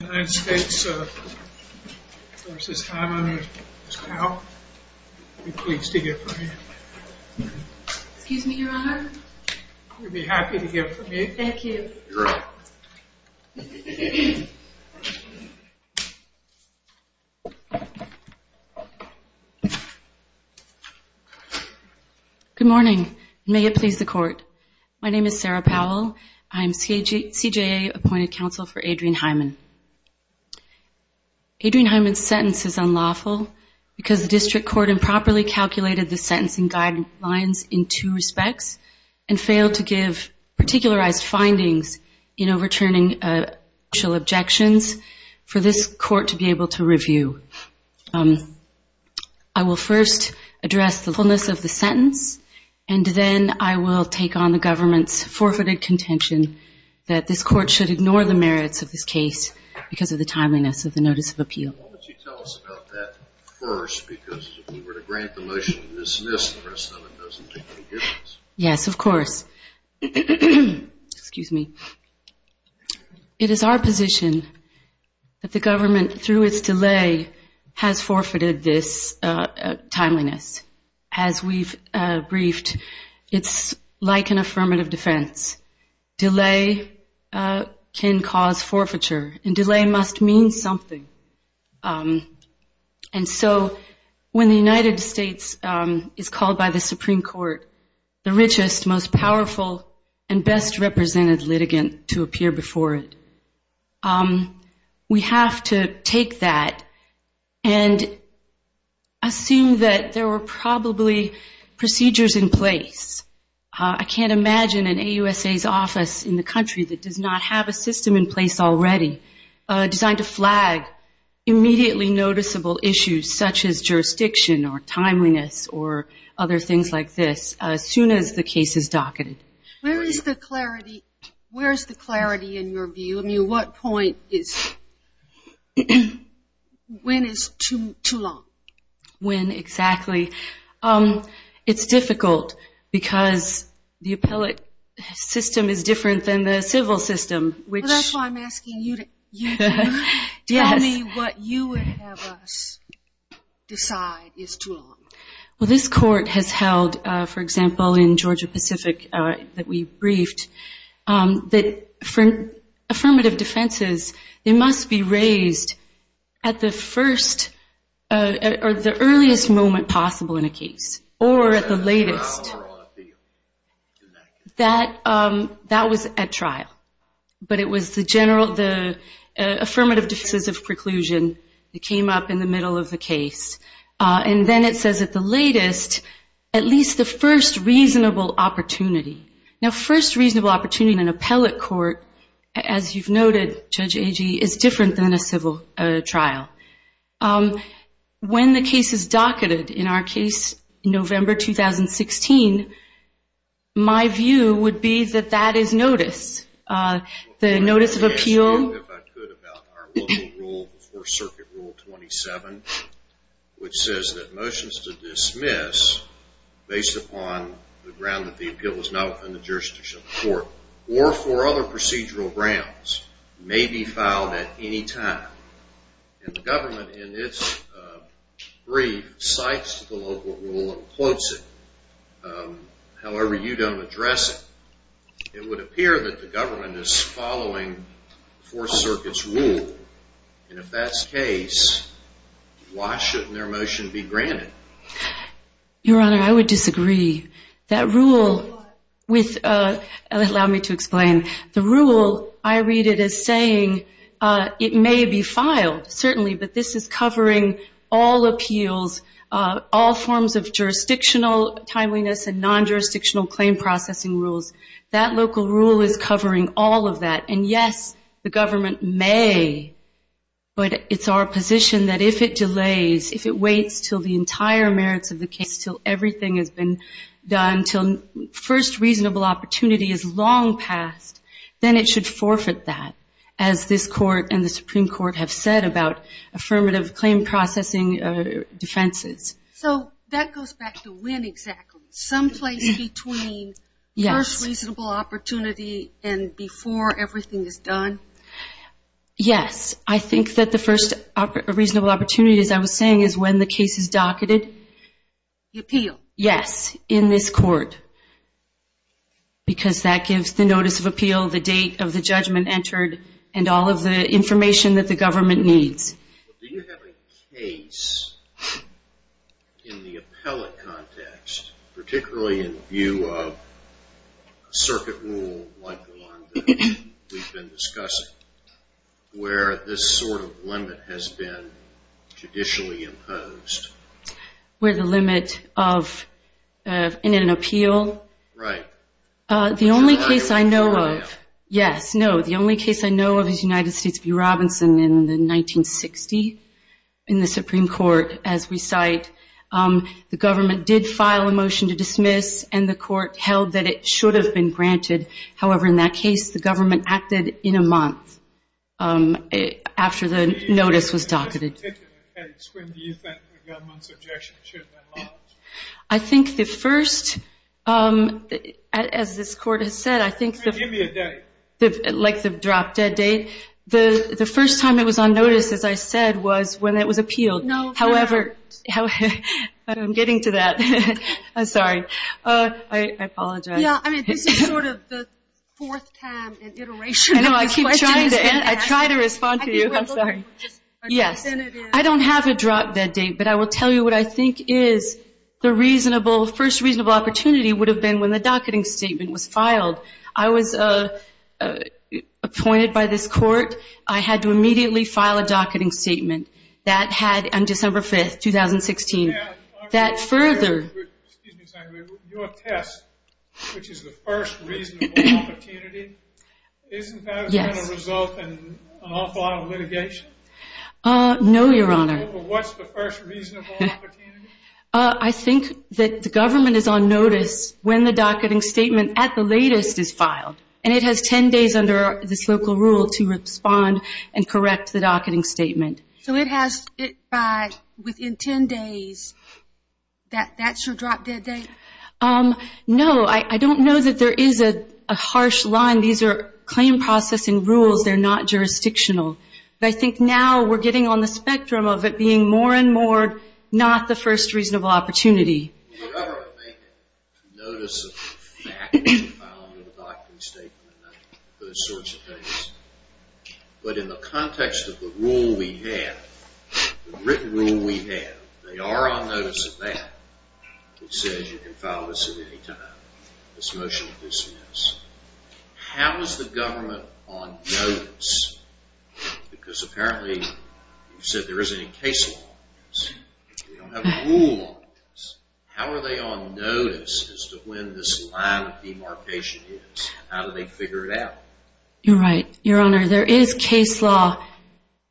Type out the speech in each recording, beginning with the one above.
United States v. Hyman v. Powell. I'd be pleased to give her a hand. Excuse me, your honor. You'd be happy to give her a hand? Thank you. You're welcome. Good morning. May it please the court. My name is Sarah Powell. I'm CJA appointed counsel for Adrian Hyman. Adrian Hyman's sentence is unlawful because the district court improperly calculated the sentencing guidelines in two respects and failed to give particularized findings in overturning official objections for this court to be able to review. I will first address the fullness of the sentence and then I will take on the government's forfeited contention that this court should ignore the merits of this case because of the timeliness of the notice of appeal. Why don't you tell us about that first because if we were to grant the motion to dismiss, the rest of it doesn't make any difference. Yes, of course. Excuse me. It is our position that the government through its delay has forfeited this timeliness. As we've briefed, it's like an affirmative defense. Delay can cause forfeiture and delay must mean something. And so when the United States is called by the Supreme Court, the richest, most powerful, and best represented litigant to appear before it, we have to take that and assume that there were probably procedures in place. I can't imagine an AUSA's office in the country that does not have a system in place already designed to flag immediately noticeable issues such as jurisdiction or timeliness or other things like this as soon as the case is docketed. Where is the clarity in your view? I mean, what point is, when is too long? When exactly? It's difficult because the appellate system is different than the civil system. Well, that's why I'm asking you to tell me what you would have us decide is too long. Well, this court has held, for example, in Georgia-Pacific that we briefed, that affirmative defenses, they must be raised at the earliest moment possible in a case or at the latest. That was at trial. But it was the affirmative defense of preclusion that came up in the middle of the case. And then it says at the latest, at least the first reasonable opportunity. Now, first reasonable opportunity in an appellate court, as you've noted, Judge Agee, is different than a civil trial. When the case is docketed, in our case, November 2016, my view would be that that is notice. The notice of appeal. If I could about our local rule before Circuit Rule 27, which says that motions to dismiss, based upon the ground that the appeal was not within the jurisdiction of the court or for other procedural grounds, may be filed at any time. And the government, in its brief, cites the local rule and quotes it. However, you don't address it. It would appear that the government is following the Fourth Circuit's rule. And if that's the case, why shouldn't their motion be granted? Your Honor, I would disagree. That rule, allow me to explain. The rule, I read it as saying it may be filed, certainly, but this is covering all appeals, all forms of jurisdictional timeliness and non-jurisdictional claim processing rules. That local rule is covering all of that. And, yes, the government may, but it's our position that if it delays, if it waits until the entire merits of the case, until everything has been done, until first reasonable opportunity is long past, then it should forfeit that, as this Court and the Supreme Court have said about affirmative claim processing defenses. So that goes back to when exactly? Some place between first reasonable opportunity and before everything is done? Yes. I think that the first reasonable opportunity, as I was saying, is when the case is docketed. The appeal? Yes, in this Court. Because that gives the notice of appeal, the date of the judgment entered, and all of the information that the government needs. Do you have a case in the appellate context, particularly in the view of a circuit rule like the one that we've been discussing, where this sort of limit has been judicially imposed? Where the limit of, in an appeal? Right. The only case I know of, yes, no, the only case I know of is United States v. Robinson in the 1960, in the Supreme Court, as we cite. The government did file a motion to dismiss, and the Court held that it should have been granted. However, in that case, the government acted in a month after the notice was docketed. When do you think the government's objection should have been lodged? I think the first, as this Court has said, I think the first time it was on notice, as I said, was when it was appealed. However, I'm getting to that. I'm sorry. I apologize. Yeah, I mean, this is sort of the fourth time in iteration. I know. I keep trying to answer. I try to respond to you. I'm sorry. Yes. I don't have a drop-dead date, but I will tell you what I think is the reasonable, first reasonable opportunity would have been when the docketing statement was filed. I was appointed by this Court. I had to immediately file a docketing statement. That had, on December 5th, 2016. Your test, which is the first reasonable opportunity, isn't that going to result in an awful lot of litigation? No, Your Honor. What's the first reasonable opportunity? I think that the government is on notice when the docketing statement at the latest is filed, and it has 10 days under this local rule to respond and correct the docketing statement. So it has to be within 10 days. That's your drop-dead date? No. I don't know that there is a harsh line. These are claim processing rules. They're not jurisdictional. I think now we're getting on the spectrum of it being more and more not the first reasonable opportunity. Your Honor, I think notice of the fact that we filed a docketing statement and those sorts of things. But in the context of the rule we have, the written rule we have, they are on notice of that. It says you can file this at any time. This motion is dismissed. How is the government on notice? Because apparently you said there isn't any case law on this. We don't have a rule on this. How are they on notice as to when this line of demarcation is? How do they figure it out? You're right, Your Honor. There is case law,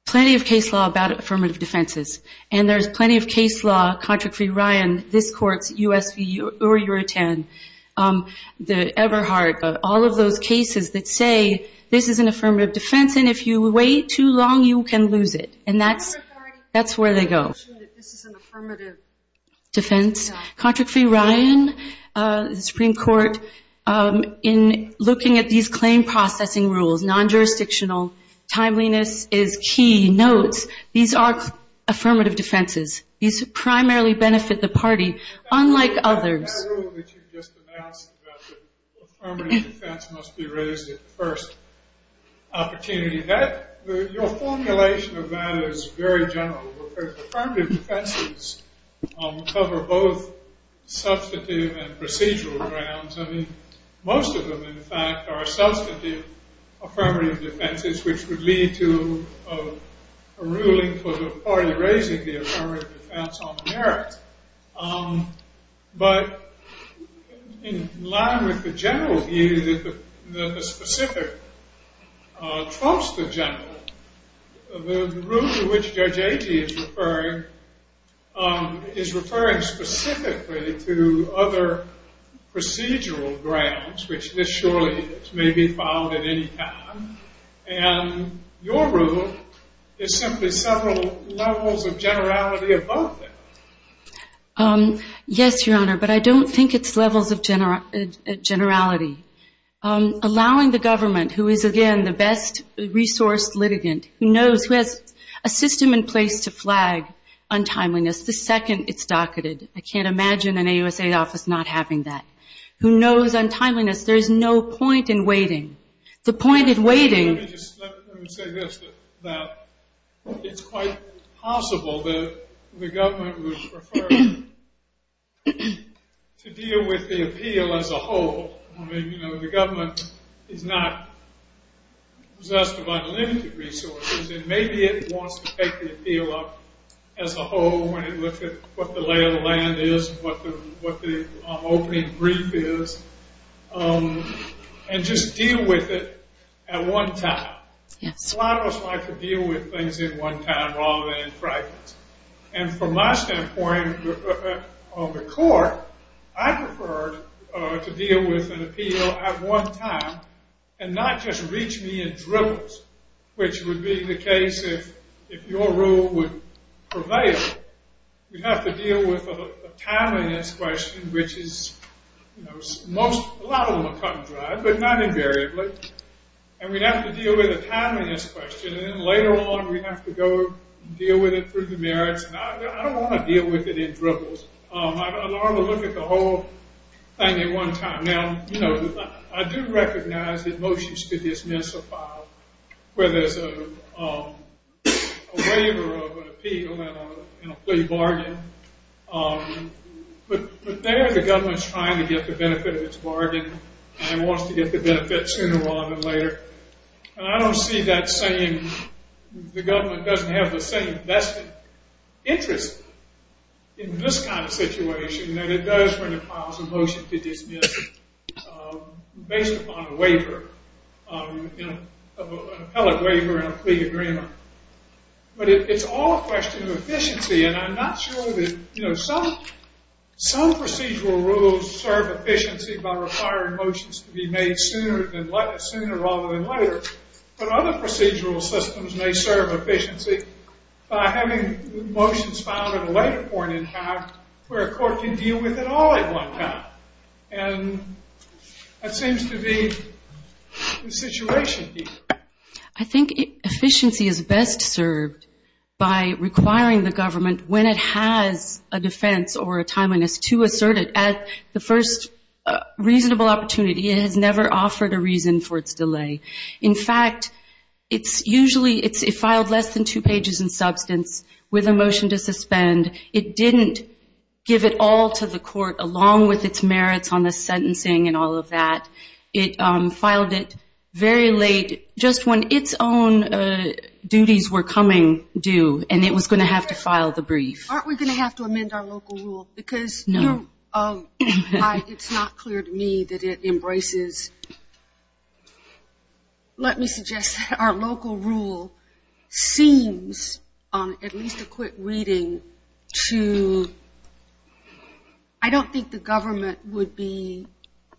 plenty of case law about affirmative defenses. And there's plenty of case law, Contract Free Ryan, this Court's U.S. v. Uri Uri Tan, the Everhart, all of those cases that say this is an affirmative defense and if you wait too long you can lose it. And that's where they go. This is an affirmative defense? Contract Free Ryan, the Supreme Court, in looking at these claim processing rules, non-jurisdictional, timeliness is key, notes, these are affirmative defenses. These primarily benefit the party, unlike others. That rule that you just announced about the affirmative defense must be raised at the first opportunity, your formulation of that is very general. Affirmative defenses cover both substantive and procedural grounds. Most of them, in fact, are substantive affirmative defenses, which would lead to a ruling for the party raising the affirmative defense on merit. But in line with the general view, the specific trust of general, the rule to which Judge Agee is referring is referring specifically to other procedural grounds, which this surely may be found at any time. And your rule is simply several levels of generality above that. Yes, Your Honor, but I don't think it's levels of generality. Allowing the government, who is, again, the best resourced litigant, who knows, who has a system in place to flag untimeliness the second it's docketed. I can't imagine an AUSA office not having that. Who knows untimeliness. There is no point in waiting. The point in waiting. Let me just say this, that it's quite possible that the government would prefer to deal with the appeal as a whole. I mean, you know, the government is not possessed of unlimited resources, and maybe it wants to take the appeal up as a whole when it looks at what the lay of the land is, what the opening brief is, and just deal with it at one time. A lot of us like to deal with things at one time rather than in fragments. And from my standpoint on the court, I prefer to deal with an appeal at one time and not just reach me in dribbles, which would be the case if your rule would prevail. You'd have to deal with a timeliness question, which is, you know, a lot of them are cut and dried, but not invariably. And we'd have to deal with a timeliness question, and then later on we'd have to go deal with it through the merits. And I don't want to deal with it in dribbles. I'd rather look at the whole thing at one time. Now, you know, I do recognize that motions could dismiss a file where there's a waiver of an appeal and a plea bargain. But there the government's trying to get the benefit of its bargain and wants to get the benefit sooner rather than later. And I don't see that saying the government doesn't have the same vested interest in this kind of situation that it does when it files a motion to dismiss based upon a waiver, you know, an appellate waiver and a plea agreement. But it's all a question of efficiency, and I'm not sure that, you know, Some procedural rules serve efficiency by requiring motions to be made sooner rather than later. But other procedural systems may serve efficiency by having motions filed at a later point in time where a court can deal with it all at one time. And that seems to be the situation here. I think efficiency is best served by requiring the government, when it has a defense or a timeliness, to assert it at the first reasonable opportunity. It has never offered a reason for its delay. In fact, it's usually – it filed less than two pages in substance with a motion to suspend. It didn't give it all to the court along with its merits on the sentencing and all of that. It filed it very late, just when its own duties were coming due, and it was going to have to file the brief. Aren't we going to have to amend our local rule? Because it's not clear to me that it embraces – let me suggest that our local rule seems, at least a quick reading, to – I don't think the government would be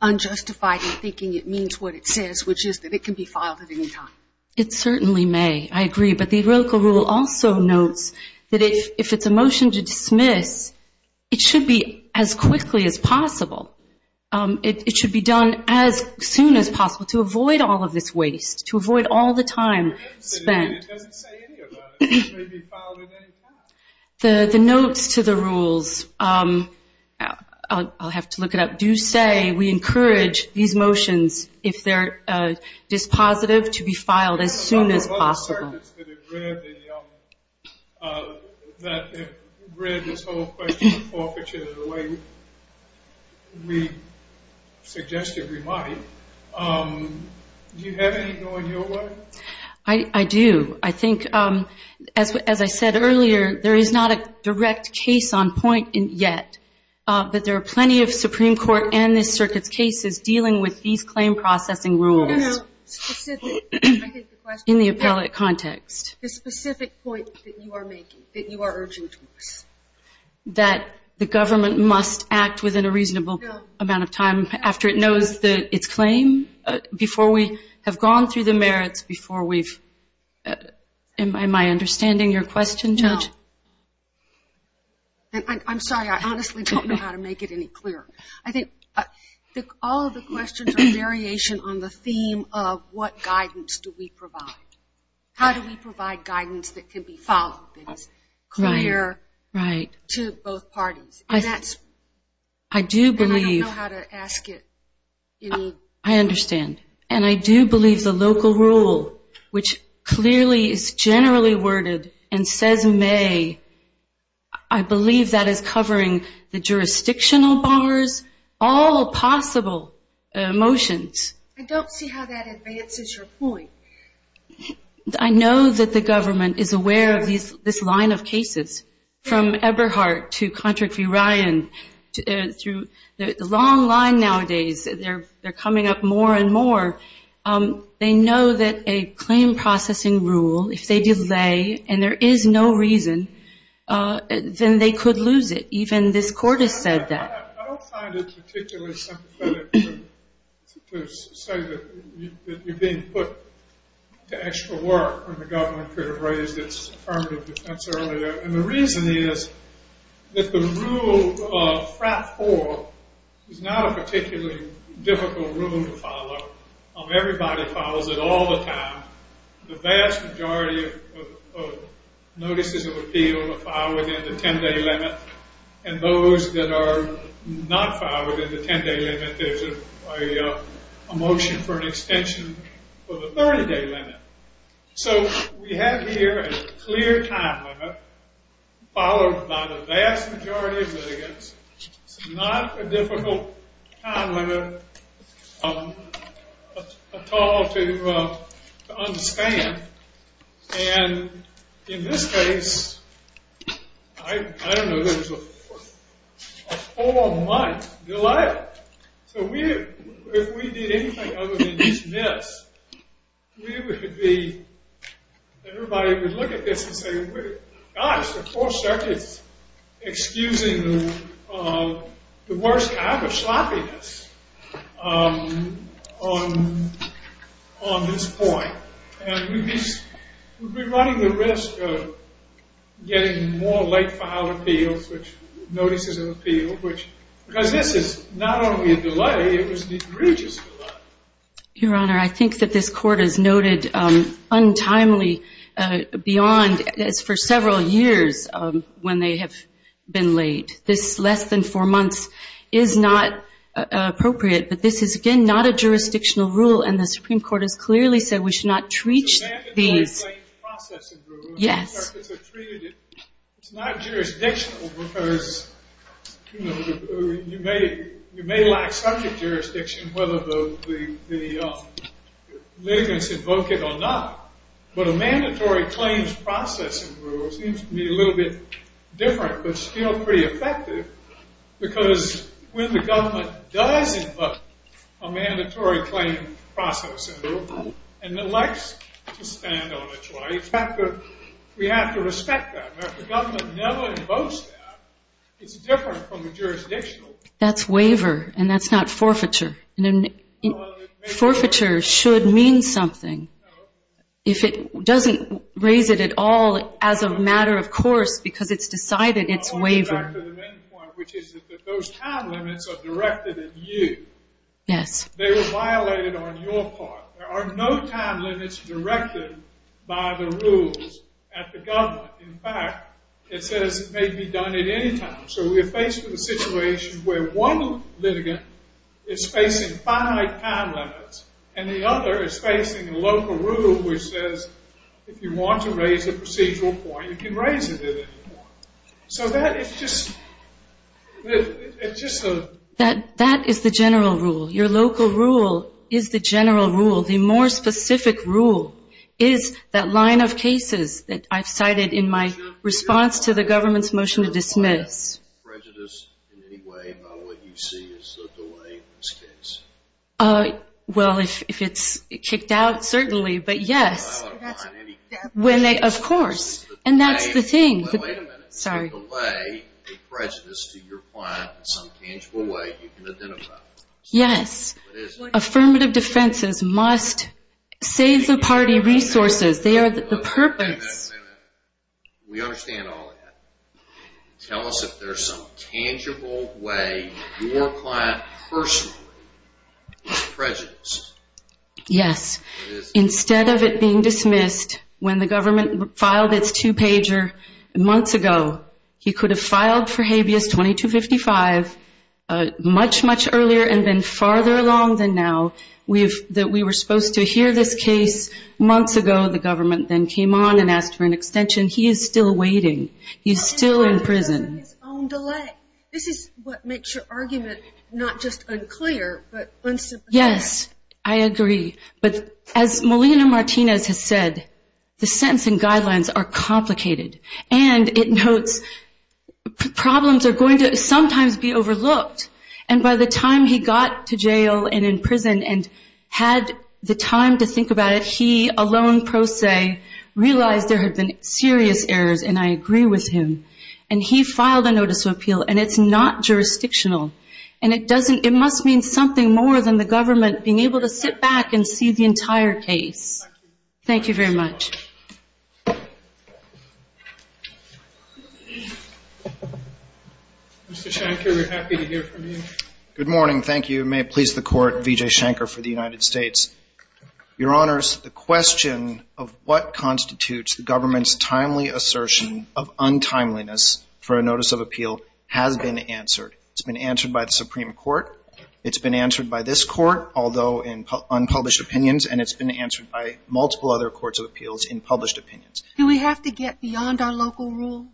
unjustified in thinking it means what it says, which is that it can be filed at any time. It certainly may. I agree. But the local rule also notes that if it's a motion to dismiss, it should be as quickly as possible. It should be done as soon as possible to avoid all of this waste, to avoid all the time spent. It doesn't say anything about it. It may be filed at any time. The notes to the rules – I'll have to look it up – do say we encourage these motions, if they're dispositive, to be filed as soon as possible. There are other circuits that have read this whole question of forfeiture the way we suggested we might. Do you have any going your way? I do. I think, as I said earlier, there is not a direct case on point yet, but there are plenty of Supreme Court and this circuit's cases dealing with these claim processing rules in the appellate context. The specific point that you are making, that you are urging to us? That the government must act within a reasonable amount of time after it knows its claim, before we have gone through the merits, before we've – am I understanding your question, Judge? No. I'm sorry. I honestly don't know how to make it any clearer. I think all of the questions are a variation on the theme of what guidance do we provide. How do we provide guidance that can be followed that is clear to both parties? And I don't know how to ask it. I understand. And I do believe the local rule, which clearly is generally worded and says may, I believe that is covering the jurisdictional bars, all possible motions. I don't see how that advances your point. I know that the government is aware of this line of cases. From Eberhardt to Contract v. Ryan, through the long line nowadays. They're coming up more and more. They know that a claim processing rule, if they delay and there is no reason, then they could lose it. Even this court has said that. I don't find it particularly sympathetic to say that you're being put to extra work when the government could have raised its affirmative defense earlier. And the reason is that the rule of frat four is not a particularly difficult rule to follow. Everybody follows it all the time. The vast majority of notices of appeal are filed within the 10-day limit. And those that are not filed within the 10-day limit, there's a motion for an extension for the 30-day limit. So we have here a clear time limit followed by the vast majority of litigants. It's not a difficult time limit at all to understand. And in this case, I don't know, there's a four-month delay. So if we did anything other than this, everybody would look at this and say, gosh, the fourth circuit's excusing the worst kind of sloppiness on this point. And we'd be running the risk of getting more late-filed appeals, which notices of appeal, because this is not only a delay, it was an egregious delay. Your Honor, I think that this Court has noted untimely beyond, as for several years, when they have been late. This less than four months is not appropriate. But this is, again, not a jurisdictional rule, and the Supreme Court has clearly said we should not treat these. It's a mandatory claim processing rule. Yes. It's not jurisdictional, because you may lack subject jurisdiction, whether the litigants invoke it or not. But a mandatory claims processing rule seems to be a little bit different, but still pretty effective, because when the government does invoke a mandatory claim processing rule and elects to stand on a trial, we have to respect that. If the government never invokes that, it's different from a jurisdictional rule. That's waiver, and that's not forfeiture. Forfeiture should mean something. If it doesn't raise it at all as a matter of course because it's decided, it's waiver. I'll go back to the main point, which is that those time limits are directed at you. Yes. They were violated on your part. There are no time limits directed by the rules at the government. In fact, it says it may be done at any time. So we're faced with a situation where one litigant is facing finite time limits, and the other is facing a local rule which says if you want to raise a procedural point, you can raise it at any point. So that is just a— That is the general rule. Your local rule is the general rule. The more specific rule is that line of cases that I've cited in my response to the government's motion to dismiss. Is there a line of prejudice in any way about what you see as the delay in this case? Well, if it's kicked out, certainly. But, yes, when they—of course. And that's the thing. Wait a minute. Sorry. If you delay a prejudice to your client in some tangible way, you can identify it. Yes. Affirmative defenses must save the party resources. They are the purpose. Wait a minute. We understand all that. Tell us if there's some tangible way your client personally is prejudiced. Yes. Instead of it being dismissed when the government filed its two-pager months ago, he could have filed for habeas 2255 much, much earlier and been farther along than now. We were supposed to hear this case months ago. The government then came on and asked for an extension. He is still waiting. He's still in prison. This is what makes your argument not just unclear but unsubstantiated. Yes, I agree. But as Molina Martinez has said, the sentencing guidelines are complicated. And it notes problems are going to sometimes be overlooked. And by the time he got to jail and in prison and had the time to think about it, he alone, pro se, realized there had been serious errors, and I agree with him. And he filed a notice of appeal, and it's not jurisdictional. And it must mean something more than the government being able to sit back and see the entire case. Thank you very much. Mr. Shanker, we're happy to hear from you. Good morning. Thank you. May it please the Court, Vijay Shanker for the United States. Your Honors, the question of what constitutes the government's timely assertion of It's been answered by this Court, although in unpublished opinions, and it's been answered by multiple other courts of appeals in published opinions. Do we have to get beyond our local rule?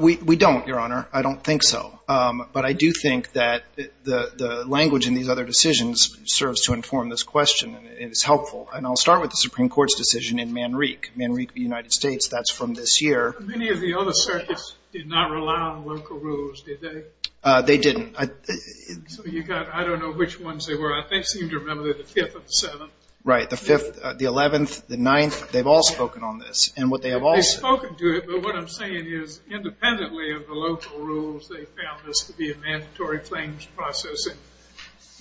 We don't, Your Honor. I don't think so. But I do think that the language in these other decisions serves to inform this question, and it's helpful. And I'll start with the Supreme Court's decision in Manrique. Manrique, the United States, that's from this year. Many of the other circuits did not rely on local rules, did they? They didn't. So you've got, I don't know which ones they were. I think I seem to remember they're the 5th and 7th. Right, the 5th, the 11th, the 9th. They've all spoken on this. They've spoken to it, but what I'm saying is independently of the local rules, they found this to be a mandatory claims processing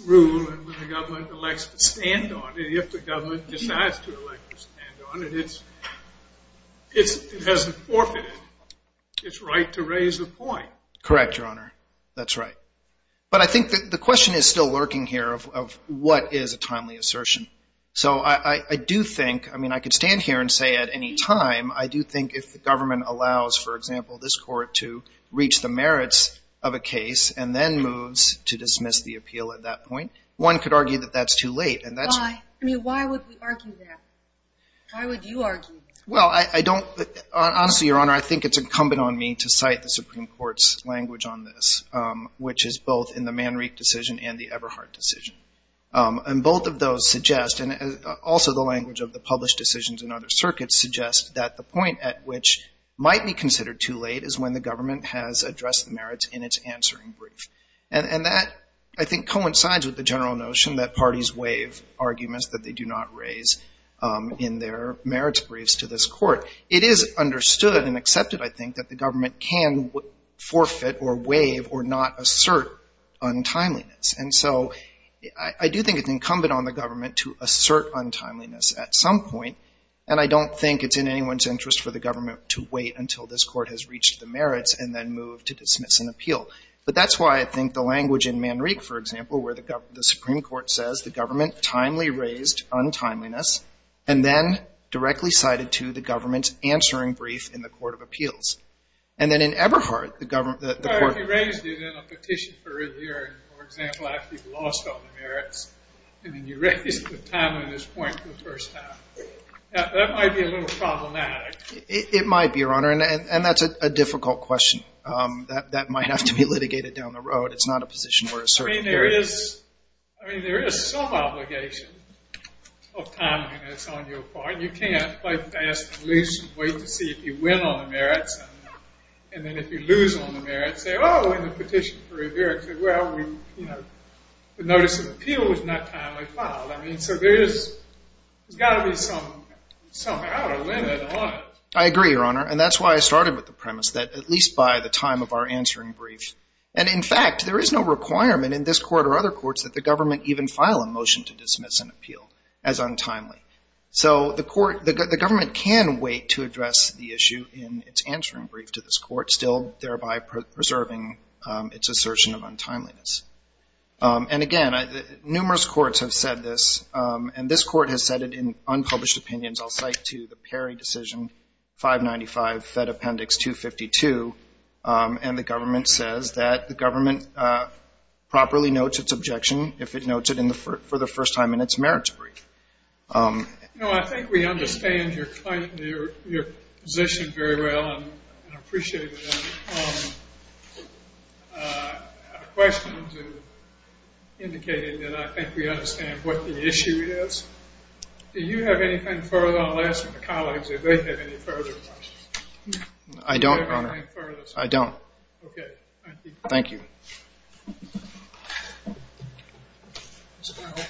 rule, and when the government elects to stand on it, if the government decides to elect to stand on it, it hasn't forfeited its right to raise a point. Correct, Your Honor. That's right. But I think the question is still lurking here of what is a timely assertion. So I do think, I mean, I could stand here and say at any time, I do think if the government allows, for example, this court to reach the merits of a case and then moves to dismiss the appeal at that point, one could argue that that's too late. Why? I mean, why would we argue that? Why would you argue that? Well, I don't, honestly, Your Honor, I think it's incumbent on me to cite the Supreme Court's language on this, which is both in the Manrique decision and the Everhart decision. And both of those suggest, and also the language of the published decisions in other circuits suggests that the point at which might be considered too late is when the government has addressed the merits in its answering brief. And that, I think, coincides with the general notion that parties waive arguments that they do not raise in their merits briefs to this court. It is understood and accepted, I think, that the government can forfeit or waive or not assert untimeliness. And so I do think it's incumbent on the government to assert untimeliness at some point. And I don't think it's in anyone's interest for the government to wait until this court has reached the merits and then move to dismiss an appeal. But that's why I think the language in Manrique, for example, where the Supreme Court says the government timely raised untimeliness and then directly cited to the government's answering brief in the court of appeals. And then in Everhart, the government, the court- If you raised it in a petition for a year, for example, after you've lost all the merits, and then you raise the timeliness point for the first time, that might be a little problematic. It might be, Your Honor. And that's a difficult question. That might have to be litigated down the road. It's not a position where a certain- I mean, there is some obligation of timeliness on your part. And you can't play fast and loose and wait to see if you win on the merits and then if you lose on the merits, say, oh, in the petition for a year, it said, well, the notice of appeal was not timely filed. I mean, so there's got to be some outer limit on it. I agree, Your Honor. And that's why I started with the premise that at least by the time of our answering brief. And in fact, there is no requirement in this court or other courts that the government even file a motion to dismiss an appeal as untimely. So the government can wait to address the issue in its answering brief to this court, still thereby preserving its assertion of untimeliness. And, again, numerous courts have said this, and this court has said it in unpublished opinions. I'll cite to the Perry decision, 595 Fed Appendix 252, and the government says that the government properly notes its objection if it You know, I think we understand your position very well and appreciate it. I have a question indicating that I think we understand what the issue is. Do you have anything further? I'll ask my colleagues if they have any further questions. I don't, Your Honor. Do you have anything further? I don't. Okay, thank you. Thank you. Ms. Powell.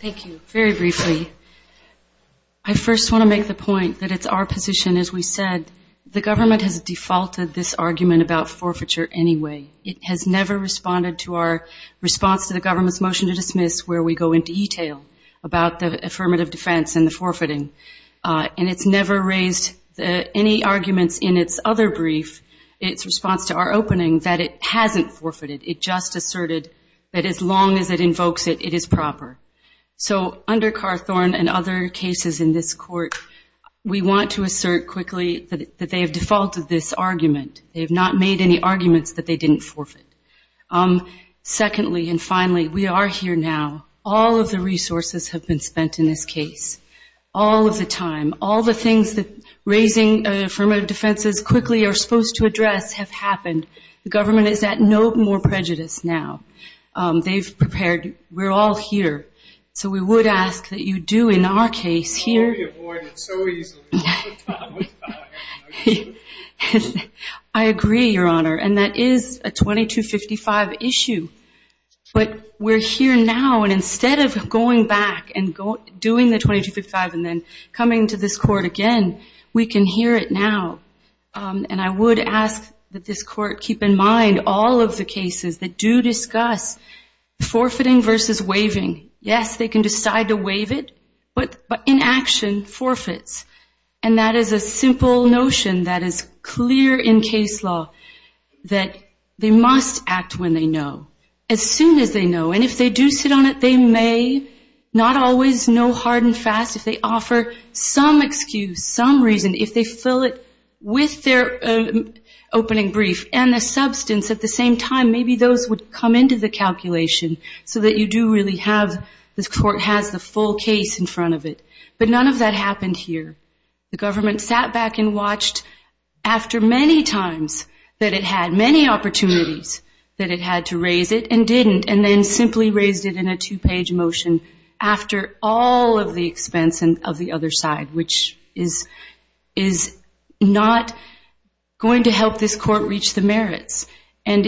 Thank you. Very briefly, I first want to make the point that it's our position, as we said, the government has defaulted this argument about forfeiture anyway. It has never responded to our response to the government's motion to dismiss where we go into detail about the affirmative defense and the forfeiting. And it's never raised any arguments in its other brief, its response to our opening, that it hasn't forfeited. It just asserted that as long as it invokes it, it is proper. So under Carthorne and other cases in this court, we want to assert quickly that they have defaulted this argument. They have not made any arguments that they didn't forfeit. Secondly and finally, we are here now. All of the resources have been spent in this case. All of the time. All the things that raising affirmative defenses quickly are supposed to address have happened. The government is at no more prejudice now. They've prepared. We're all here. So we would ask that you do, in our case, here. I agree, Your Honor, and that is a 2255 issue. But we're here now, and instead of going back and doing the 2255 and then coming to this court again, we can hear it now. And I would ask that this court keep in mind all of the cases that do discuss forfeiting versus waiving. Yes, they can decide to waive it, but in action, forfeits. And that is a simple notion that is clear in case law, that they must act when they know, as soon as they know. And if they do sit on it, they may not always know hard and fast. If they offer some excuse, some reason, if they fill it with their opening brief and the substance at the same time, maybe those would come into the calculation so that you do really have this court has the full case in front of it. But none of that happened here. The government sat back and watched after many times that it had many opportunities, that it had to raise it and didn't, and then simply raised it in a two-page motion after all of the expense of the other side, which is not going to help this court reach the merits. And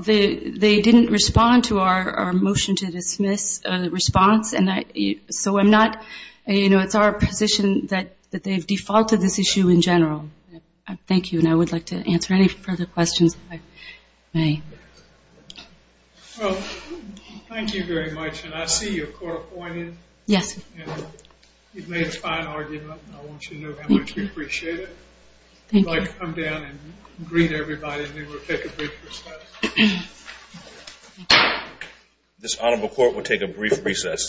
they didn't respond to our motion to dismiss response, and so I'm not, you know, it's our position that they've defaulted this issue in general. Thank you, and I would like to answer any further questions if I may. Well, thank you very much, and I see you're court appointed. Yes. And you've made a fine argument, and I want you to know how much we appreciate it. Thank you. We're going to come down and greet everybody, and then we'll take a brief recess. This honorable court will take a brief recess.